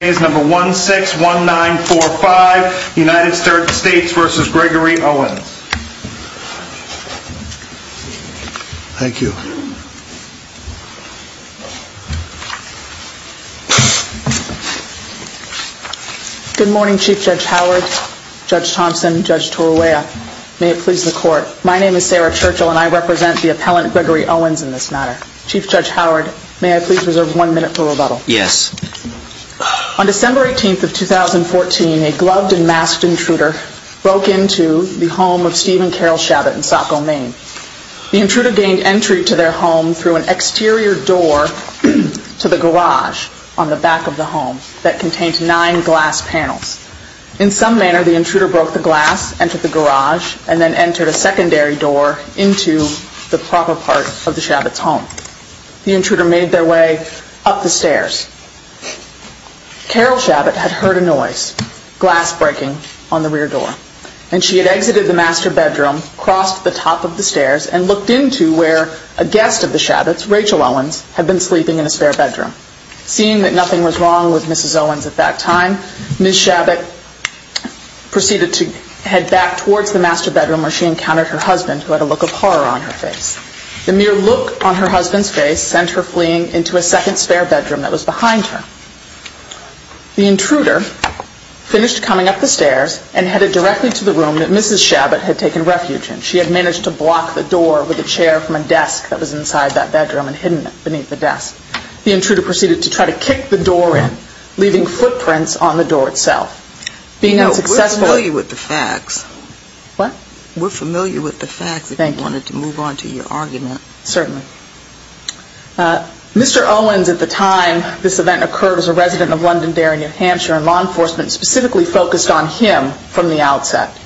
161945 United States v. Gregory Owens. Thank you. Good morning Chief Judge Howard, Judge Thompson, Judge Torrella. May it please the court. My name is Sarah Churchill and I represent the appellant Gregory Owens in this matter. Chief Judge Howard, may I please reserve one minute for rebuttal? Yes. On December 18th of 2014, a gloved and masked intruder broke into the home of Stephen Carroll Shabbat in Saco, Maine. The intruder gained entry to their home through an exterior door to the garage on the back of the home that contained nine glass panels. In some manner, the intruder broke the glass, entered the garage, and then entered a secondary door into the proper part of the Shabbat's home. The intruder made their way up the stairs. Carroll Shabbat had heard a noise, glass breaking, on the rear door. And she had exited the master bedroom, crossed the top of the stairs, and looked into where a guest of the Shabbat's, Rachel Owens, had been sleeping in a spare bedroom. Seeing that nothing was wrong with Mrs. Owens at that time, Ms. Shabbat proceeded to head back towards the master bedroom where she encountered her husband who had a look of horror on her face. The mere look on her husband's face sent her fleeing into a second spare bedroom that was behind her. The intruder finished coming up the stairs and headed directly to the room that Mrs. Shabbat had taken refuge in. She had managed to block the door with a chair from a desk that was inside that bedroom and hidden beneath the desk. The intruder proceeded to try to kick the door in, leaving footprints on the door itself. Being unsuccessful... You know, we're familiar with the facts. What? We're familiar with the facts if you wanted to move on to your argument. Certainly. Mr. Owens, at the time, this event occurred as a resident of Londonderry, New Hampshire, and law enforcement specifically focused on him from the outset.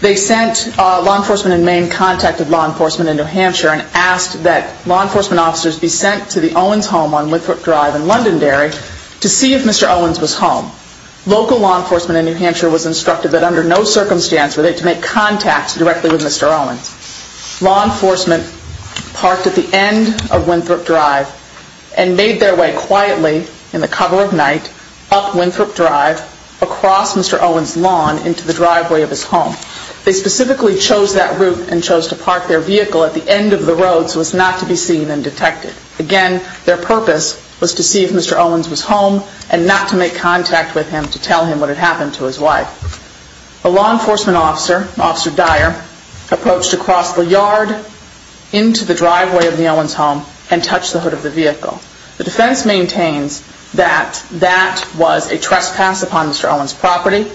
They sent law enforcement in Maine, contacted law enforcement in New Hampshire, and asked that law enforcement officers be sent to the Owens home on Whitford Drive in Londonderry to see if Mr. Owens was home. Local law enforcement in New Hampshire was instructed that under no circumstance were they to make contact directly with Mr. Owens. Law enforcement parked at the end of Winthrop Drive and made their way quietly in the cover of night, up Winthrop Drive, across Mr. Owens' lawn, into the driveway of his home. They specifically chose that route and chose to park their vehicle at the end of the road so as not to be seen and detected. Again, their purpose was to see if Mr. Owens was home and not to make contact with him to tell him what had happened to his wife. A law enforcement officer, Officer Dyer, approached across the yard into the driveway of the Owens home and touched the hood of the vehicle. The defense maintains that that was a trespass upon Mr. Owens' property,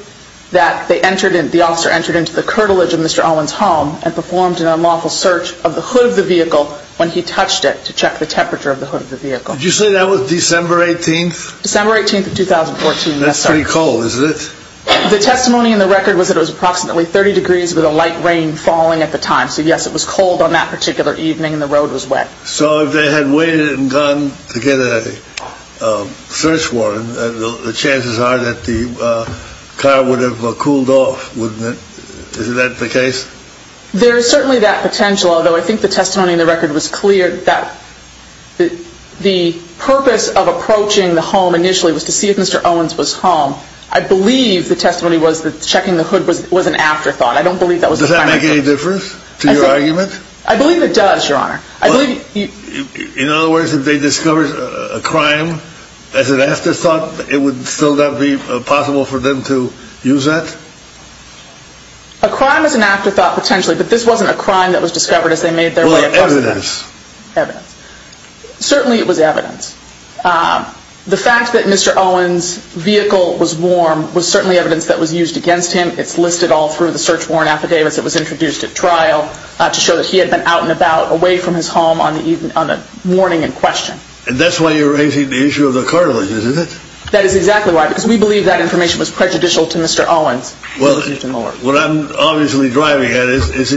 that the officer entered into the curtilage of Mr. Owens' home and performed an unlawful search of the hood of the vehicle when he touched it to check the temperature of the hood of the vehicle. Did you say that was December 18th? December 18th of 2014, yes, sir. That's pretty cold, isn't it? The testimony in the record was that it was approximately 30 degrees with a light rain falling at the time, so yes, it was cold on that particular evening and the road was wet. So if they had waited and gone to get a search warrant, the chances are that the car would have cooled off, wouldn't it? Isn't that the case? There is certainly that potential, although I think the testimony in the record was clear that the purpose of approaching the home initially was to see if Mr. Owens was home. I believe the testimony was that checking the hood was an afterthought. I don't believe that was the primary purpose. Does that make any difference to your argument? I believe it does, Your Honor. In other words, if they discovered a crime as an afterthought, it would still not be possible for them to use that? A crime as an afterthought, potentially, but this wasn't a crime that was discovered as they made their way across the neighborhood. Evidence. Evidence. Certainly it was evidence. The fact that Mr. Owens' vehicle was warm was certainly evidence that was used against him. It's listed all through the search warrant affidavits that was introduced at trial to show that he had been out and about, away from his home on the morning in question. And that's why you're raising the issue of the cartilages, is it? That is exactly why, because we believe that information was prejudicial to Mr. Owens. Well, what I'm obviously driving at is,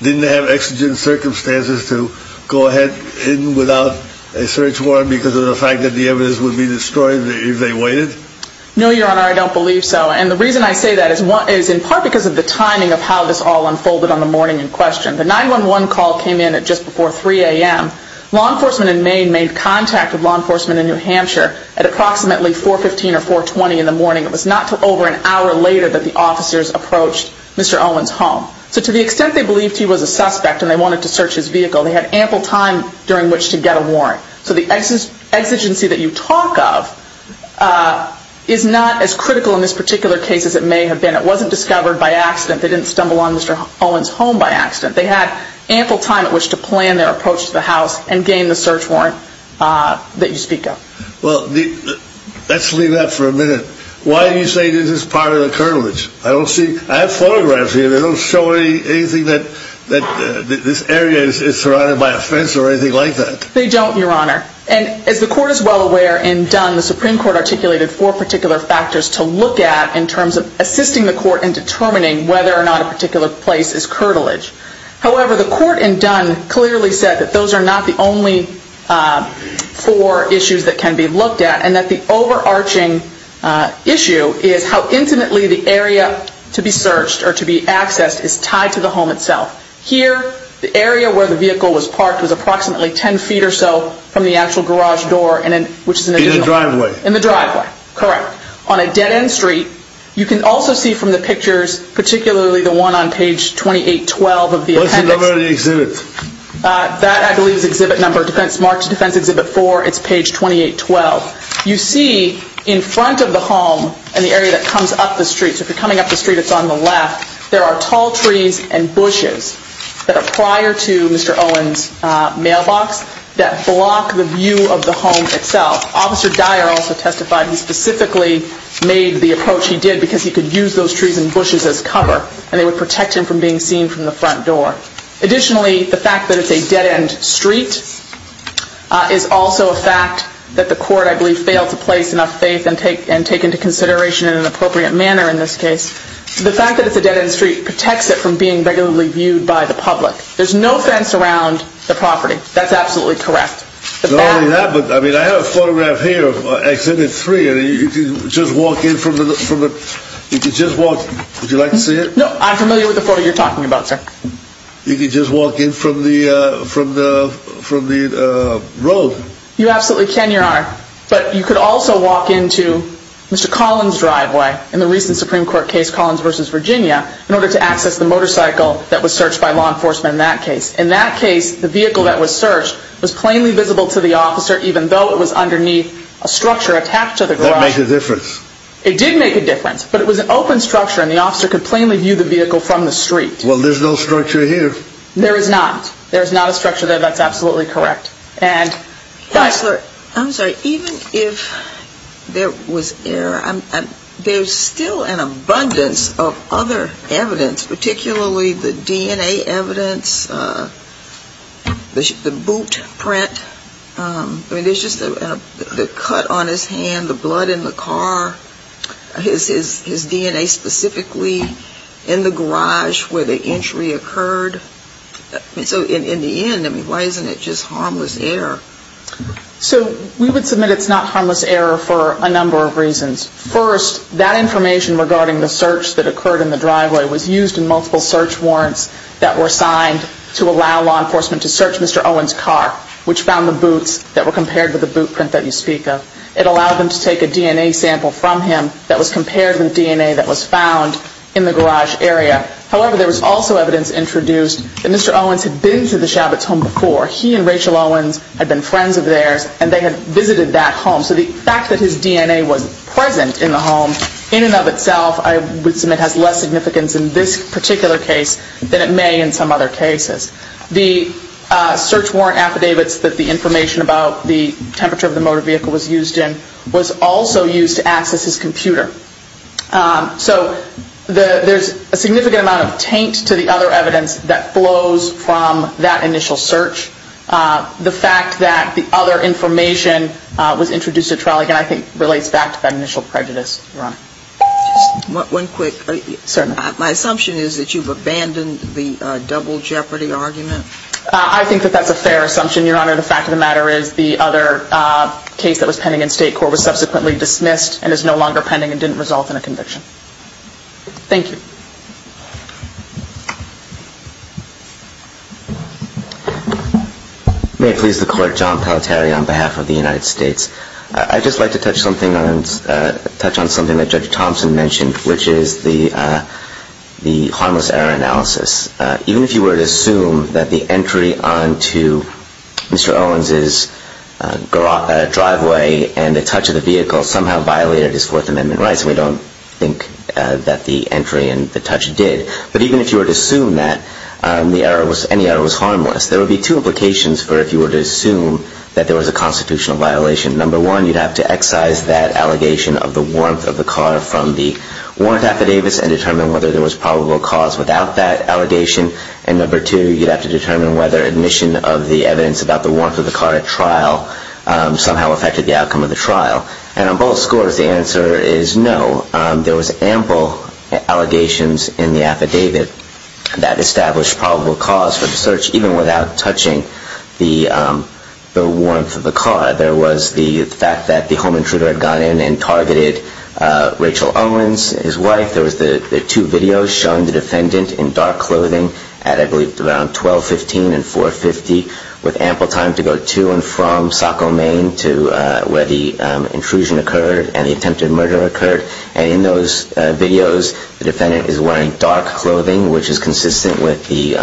didn't they have exigent circumstances to go ahead in without a search warrant because of the fact that the evidence would be destroyed if they waited? No, Your Honor, I don't believe so. And the reason I say that is in part because of the timing of how this all unfolded on the morning in question. The 911 call came in at just before 3 a.m. Law enforcement in Maine made contact with law enforcement in New Hampshire at approximately 4.15 or 4.20 in the morning. It was not until over an hour later that the officers approached Mr. Owens' home. So to the extent they believed he was a suspect and they wanted to search his vehicle, they had ample time during which to get a warrant. So the exigency that you talk of is not as critical in this particular case as it may have been. It wasn't discovered by accident. They didn't stumble on Mr. Owens' home by accident. They had ample time at which to plan their approach to the house and gain the search warrant that you speak of. Well, let's leave that for a minute. Why do you say this is part of the curtilage? I have photographs here that don't show anything that this area is surrounded by a fence or anything like that. They don't, Your Honor. And as the Court is well aware in Dunn, the Supreme Court articulated four particular factors to look at in terms of assisting the Court in determining whether or not a particular place is curtilage. However, the Court in Dunn clearly said that those are not the only four issues that can be looked at and that the overarching issue is how intimately the area to be searched or to be accessed is tied to the home itself. Here, the area where the vehicle was parked was approximately 10 feet or so from the actual garage door, which is in the driveway. In the driveway. In the driveway, correct. On a dead-end street, you can also see from the pictures, particularly the one on page 2812 of the appendix What's the number of the exhibit? That, I believe, is exhibit number, marked Defense Exhibit 4. It's page 2812. You see in front of the home, in the area that comes up the street, so if you're coming up the street, it's on the left, there are tall trees and bushes that are prior to Mr. Owen's mailbox that block the view of the home itself. Officer Dyer also testified he specifically made the approach he did because he could use those trees and bushes as cover and they would protect him from being seen from the front door. Additionally, the fact that it's a dead-end street is also a fact that the court, I believe, failed to place enough faith and take into consideration in an appropriate manner in this case. The fact that it's a dead-end street protects it from being regularly viewed by the public. There's no fence around the property. That's absolutely correct. Not only that, but I mean, I have a photograph here of Exhibit 3 and you can just walk in from the, you can just walk, would you like to see it? No, I'm familiar with the photo you're talking about, sir. You can just walk in from the road. You absolutely can, Your Honor, but you could also walk into Mr. Collins' driveway in the recent Supreme Court case, Collins v. Virginia, in order to access the motorcycle that was searched by law enforcement in that case. In that case, the vehicle that was searched was plainly visible to the officer even though it was underneath a structure attached to the garage. That makes a difference. It did make a difference, but it was an open structure and the officer could plainly view the vehicle from the street. Well, there's no structure here. There is not. There is not a structure there. That's absolutely correct. Counselor, I'm sorry, even if there was error, there's still an abundance of other evidence, particularly the DNA evidence, the boot print. I mean, there's just the cut on his hand, the blood in the car, his DNA specifically in the garage where the entry occurred. So in the end, I mean, why isn't it just harmless error? So we would submit it's not harmless error for a number of reasons. First, that information regarding the search that occurred in the driveway was used in multiple search warrants that were signed to allow law enforcement to search Mr. Owen's car, which found the take a DNA sample from him that was compared with DNA that was found in the garage area. However, there was also evidence introduced that Mr. Owens had been to the Chabot's home before. He and Rachel Owens had been friends of theirs and they had visited that home. So the fact that his DNA was present in the home in and of itself, I would submit has less significance in this particular case than it may in some other cases. The search warrant affidavits that the information about the temperature of the motor vehicle was used in was also used to access his computer. So there's a significant amount of taint to the other evidence that flows from that initial search. The fact that the other information was introduced at trial, again, I think relates back to that initial prejudice, Your Honor. One quick, my assumption is that you've abandoned the double jeopardy argument? I think that that's a fair assumption, Your Honor. The fact of the matter is the other case that was pending in State Court was subsequently dismissed and is no longer pending and didn't result in a conviction. Thank you. May it please the Court, John Palateri on behalf of the United States. I'd just like to touch on something that Judge Thompson mentioned, which is the harmless error analysis. Even if you were to assume that the entry onto Mr. Owens' driveway and the touch of the vehicle somehow violated his Fourth Amendment rights, we don't think that the entry and the touch did. But even if you were to assume that, any error was harmless. There would be two implications for if you were to assume that there was a constitutional violation. Number one, you'd have to excise that allegation of the warmth of the car from the warrant affidavits and determine whether there was probable cause without that allegation. And number two, you'd have to determine whether admission of the evidence about the warmth of the car at trial somehow affected the outcome of the trial. And on both scores, the answer is no. There was ample allegations in the affidavit that established probable cause for the search even without touching the warmth of the car. There was the fact that the home owner, Mr. Owens, his wife, there were two videos showing the defendant in dark clothing at I believe around 12.15 and 4.50 with ample time to go to and from Saco, Maine, to where the intrusion occurred and the attempted murder occurred. And in those videos, the defendant is wearing dark clothing, which is consistent with the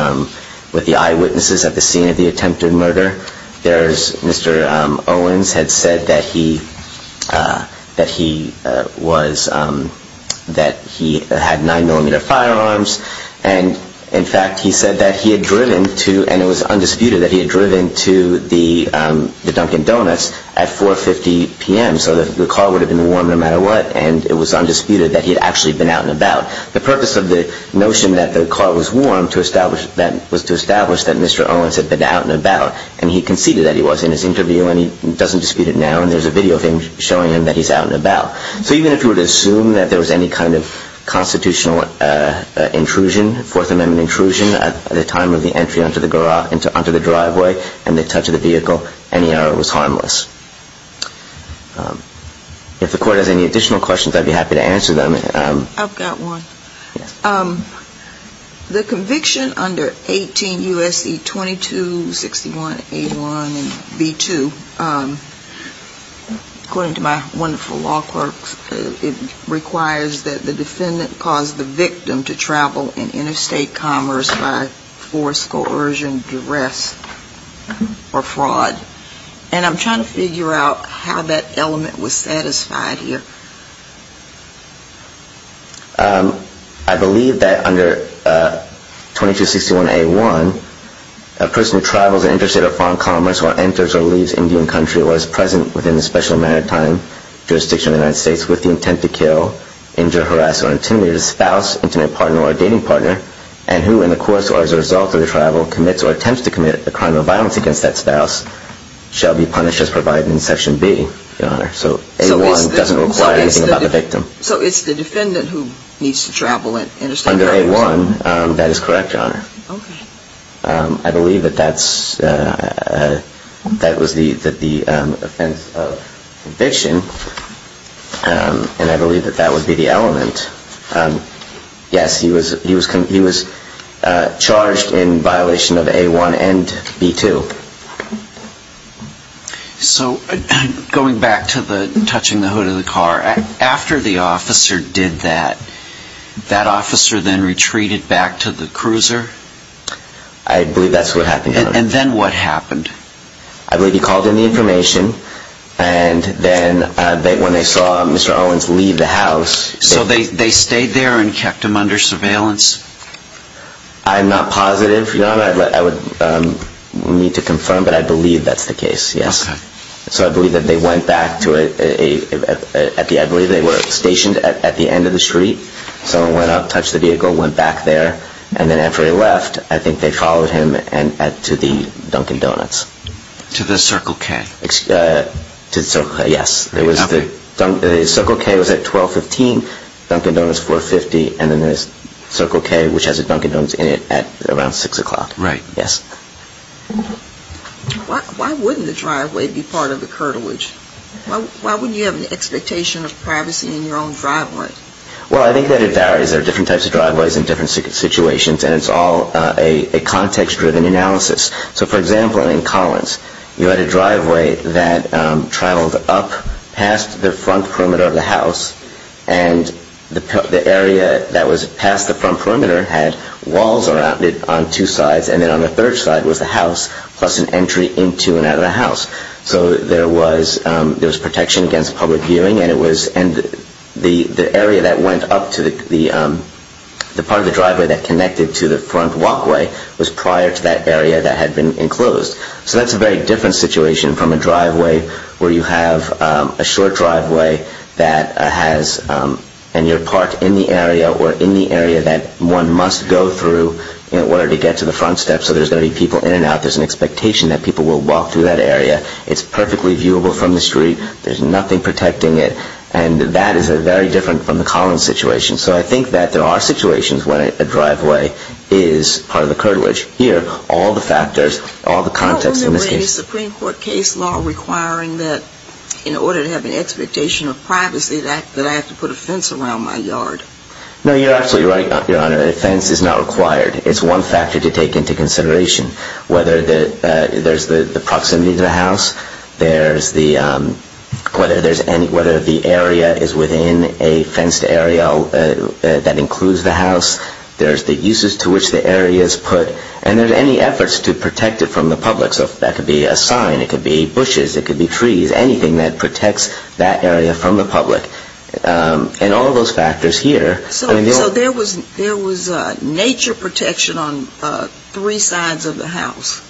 eyewitnesses at the scene of the attempted murder. There's Mr. Owens had said that he, that he was, that he was wearing that he had nine millimeter firearms. And in fact, he said that he had driven to, and it was undisputed that he had driven to the, um, the Dunkin Donuts at 4.50 PM. So the car would have been warm no matter what. And it was undisputed that he had actually been out and about. The purpose of the notion that the car was warm to establish that was to establish that Mr. Owens had been out and about. And he conceded that he was in his interview and he doesn't dispute it now. And there's a video of him showing him that he's been out and about. So even if you were to assume that there was any kind of constitutional intrusion, Fourth Amendment intrusion, at the time of the entry onto the garage, onto the driveway and the touch of the vehicle, any error was harmless. If the court has any additional questions, I'd be happy to answer them. I've got one. The conviction under 18 U.S.C. 2261, 81 and B2, according to my wonderful law clerks, it requires that the defendant cause the victim to travel in interstate commerce by force, coercion, duress or fraud. And I'm trying to figure out how that element was used. I believe that under 2261A1, a person who travels in interstate or foreign commerce or enters or leaves Indian country or is present within a special amount of time, jurisdiction of the United States, with the intent to kill, injure, harass or intimidate a spouse, intimate partner or dating partner, and who in the course or as a result of the travel commits or attempts to commit a crime of violence against that spouse, shall be punished as provided in Section B, Your Honor. So A1 doesn't require anything about the victim. So it's the defendant who needs to travel in interstate commerce? Under A1, that is correct, Your Honor. I believe that that's, that was the offense of eviction. And I believe that that would be the element. Yes, he was charged in violation of A1 and B2. So, going back to the touching the hood of the car, after the officer did that, that officer then retreated back to the cruiser? I believe that's what happened, Your Honor. And then what happened? I believe he called in the information and then when they saw Mr. Owens leave the house So they stayed there and kept him under surveillance? I'm not positive, Your Honor. I would need to confirm, but I believe that's the case, yes. So I believe that they went back to a, I believe they were stationed at the end of the street. Someone went up, touched the vehicle, went back there, and then after he left, I think they followed him to the Dunkin' Donuts. To the Circle K? To the Circle K, yes. The Circle K was at 1215, Dunkin' Donuts, 450, and then the Circle K, which has the Dunkin' Donuts in it, at around 6 o'clock. Right. Yes. Why wouldn't the driveway be part of the curtilage? Why wouldn't you have an expectation of privacy in your own driveway? Well, I think that it varies. There are different types of driveways in different situations, and it's all a context-driven analysis. So, for example, in Collins, you had a driveway that traveled up past the front perimeter of the house, and the area that was past the front perimeter had walls around it on two sides, and then on the third side was the house, plus an entry into and out of the house. So there was protection against public viewing, and it was, and the area that went up to the part of the driveway that connected to the front walkway was prior to that area that had been enclosed. So that's a very different situation from a driveway where you have a short driveway that has, and you're parked in the area or in the area that one must go through in order to get to the front steps. So there's going to be people in and out. There's an expectation that people will walk through that area. It's perfectly viewable from the street. There's nothing protecting it. And that is very different from the Collins situation. So I think that there are situations where a driveway is part of the curtilage. Here, all the factors, all the context in this case. Well, isn't there a Supreme Court case law requiring that in order to have an expectation of privacy that I have to put a fence around my yard? No, you're absolutely right, Your Honor. A fence is not required. It's one factor to take into consideration. Whether there's the proximity to the house, there's the, whether there's any, whether the area is within a fenced area that includes the house, there's the uses to which the area is put. And there's any efforts to protect it from the public. So that could be a sign. It could be bushes. It could be trees. Anything that protects that area from the public. And all of those factors here. So there was, there was nature protection on three sides of the house.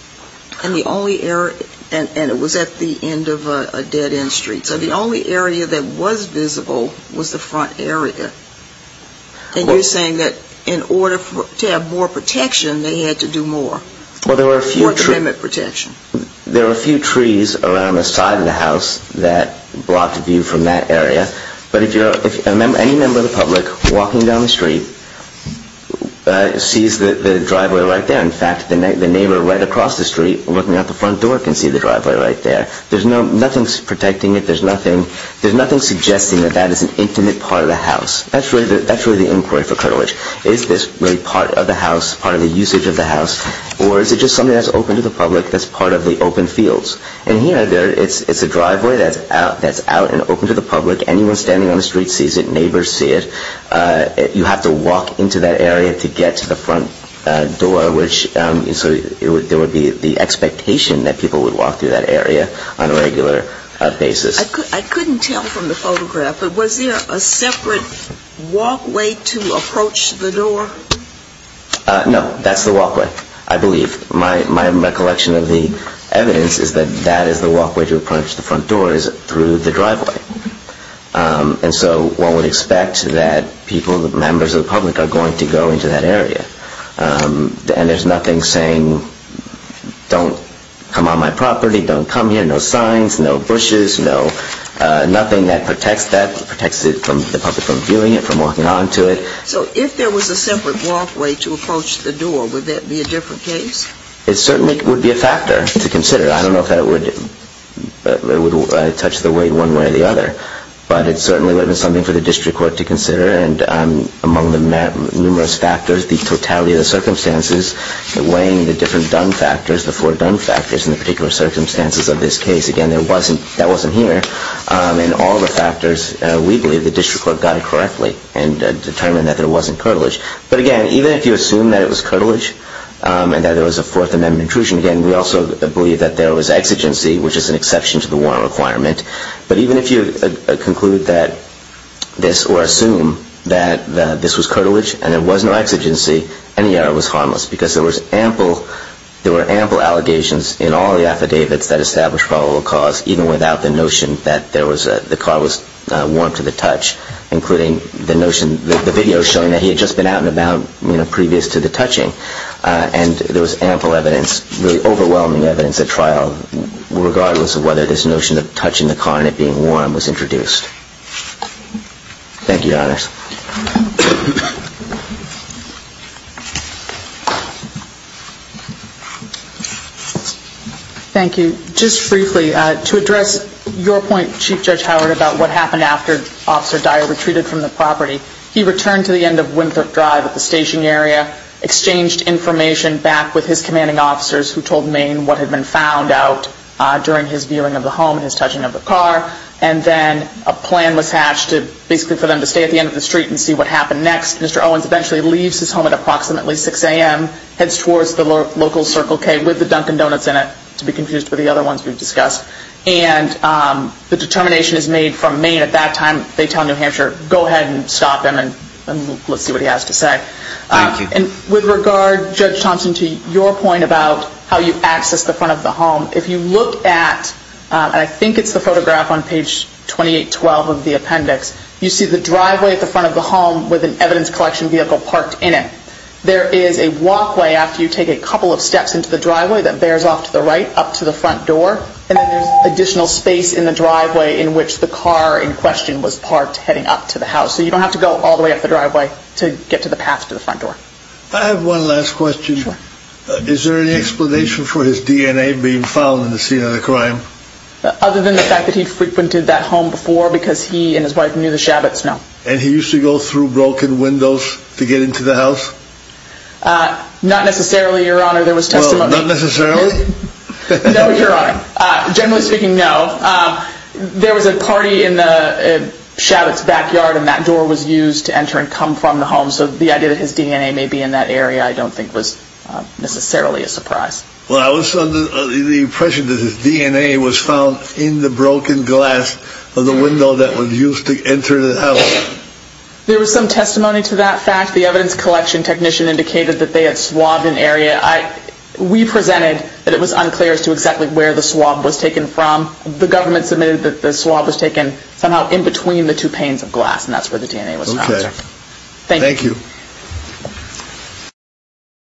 And the only area, and it was at the end of a dead-end street. So the only area that was visible was the front area. And you're saying that in order to have more protection, they had to do more. Well, there were a few trees. More treatment protection. There were a few trees around the side of the house that brought the view from that area. But if you're, any member of the public walking down the street sees the driveway right there. In fact, the neighbor right across the street, looking out the front door, can see the driveway right there. There's no, nothing's protecting it. There's nothing, there's nothing suggesting that that is an intimate part of the house. That's really the inquiry for Kurtowich. Is this really part of the house, part of the usage of the And here, it's a driveway that's out and open to the public. Anyone standing on the street sees it. Neighbors see it. You have to walk into that area to get to the front door, which, so there would be the expectation that people would walk through that area on a regular basis. I couldn't tell from the photograph, but was there a separate walkway to approach the door? No, that's the walkway, I believe. My recollection of the evidence is that that is the walkway to approach the front door is through the driveway. And so one would expect that people, members of the public are going to go into that area. And there's nothing saying, don't come on my property, don't come here. No signs, no bushes, no, nothing that protects that, protects the public from viewing it, from walking onto it. So if there was a separate walkway to approach the door, would that be a different case? It certainly would be a factor to consider. I don't know if that would touch the weight one way or the other. But it certainly would be something for the district court to consider. And among the numerous factors, the totality of the circumstances, weighing the different done factors, the four done factors in the particular circumstances of this case, again, that wasn't here. And all the factors, we believe the district court got it correctly and determined that there wasn't cartilage. But again, even if you assume that it was cartilage and that there was a Fourth Amendment intrusion, again, we also believe that there was exigency, which is an exception to the warrant requirement. But even if you conclude that this or assume that this was cartilage and there was no exigency, any error was harmless because there were ample allegations in all the affidavits that established probable cause, even without the notion that the car was warm to the touch, including the video showing that he had just been out and about previous to the touching. And there was ample evidence, really overwhelming evidence at trial, regardless of whether this notion of touching the car and it being warm was introduced. Thank you, Your Honors. Thank you. Just briefly, to address your point, Chief Judge Howard, about what happened after Officer Dyer retreated from the property, he returned to the end of Winthrop Drive at the station area, exchanged information back with his commanding officers who told Maine what had been found out during his viewing of the home and his touching of the car, and then a plan was hatched basically for them to stay at the end of the street and see what happened next. Mr. Owens eventually leaves his home at approximately 6 a.m., heads towards the local Circle K with the Dunkin' Donuts in it, to be confused with the other ones we've discussed. And the determination is made from Maine at that time. They tell New Hampshire, go ahead and stop him and let's see what he has to say. And with regard, Judge Thompson, to your point about how you accessed the front of the home, if you look at, and I think it's the photograph on page 2812 of the appendix, you see the driveway at the front of the home with an evidence collection vehicle parked in it. There is a walkway after you take a couple of steps into the driveway that bears off to the right up to the front door, and then there's additional space in the driveway in which the car in question was parked heading up to the house. So you don't have to go all the way up the driveway to get to the path to the front door. I have one last question. Is there any explanation for his DNA being found in the scene of the crime? Other than the fact that he frequented that home before because he and his wife knew the Shabbats, no. And he used to go through broken windows to get into the house? Not necessarily, Your Honor. There was testimony. Well, not necessarily? No, Your Honor. Generally speaking, no. There was a party in the Shabbat's and he may be in that area. I don't think it was necessarily a surprise. Well, I was under the impression that his DNA was found in the broken glass of the window that was used to enter the house. There was some testimony to that fact. The evidence collection technician indicated that they had swabbed an area. We presented that it was unclear as to exactly where the swab was taken from. The government submitted that the swab was taken somehow in between the two panes of glass and that's where the DNA was found. Thank you.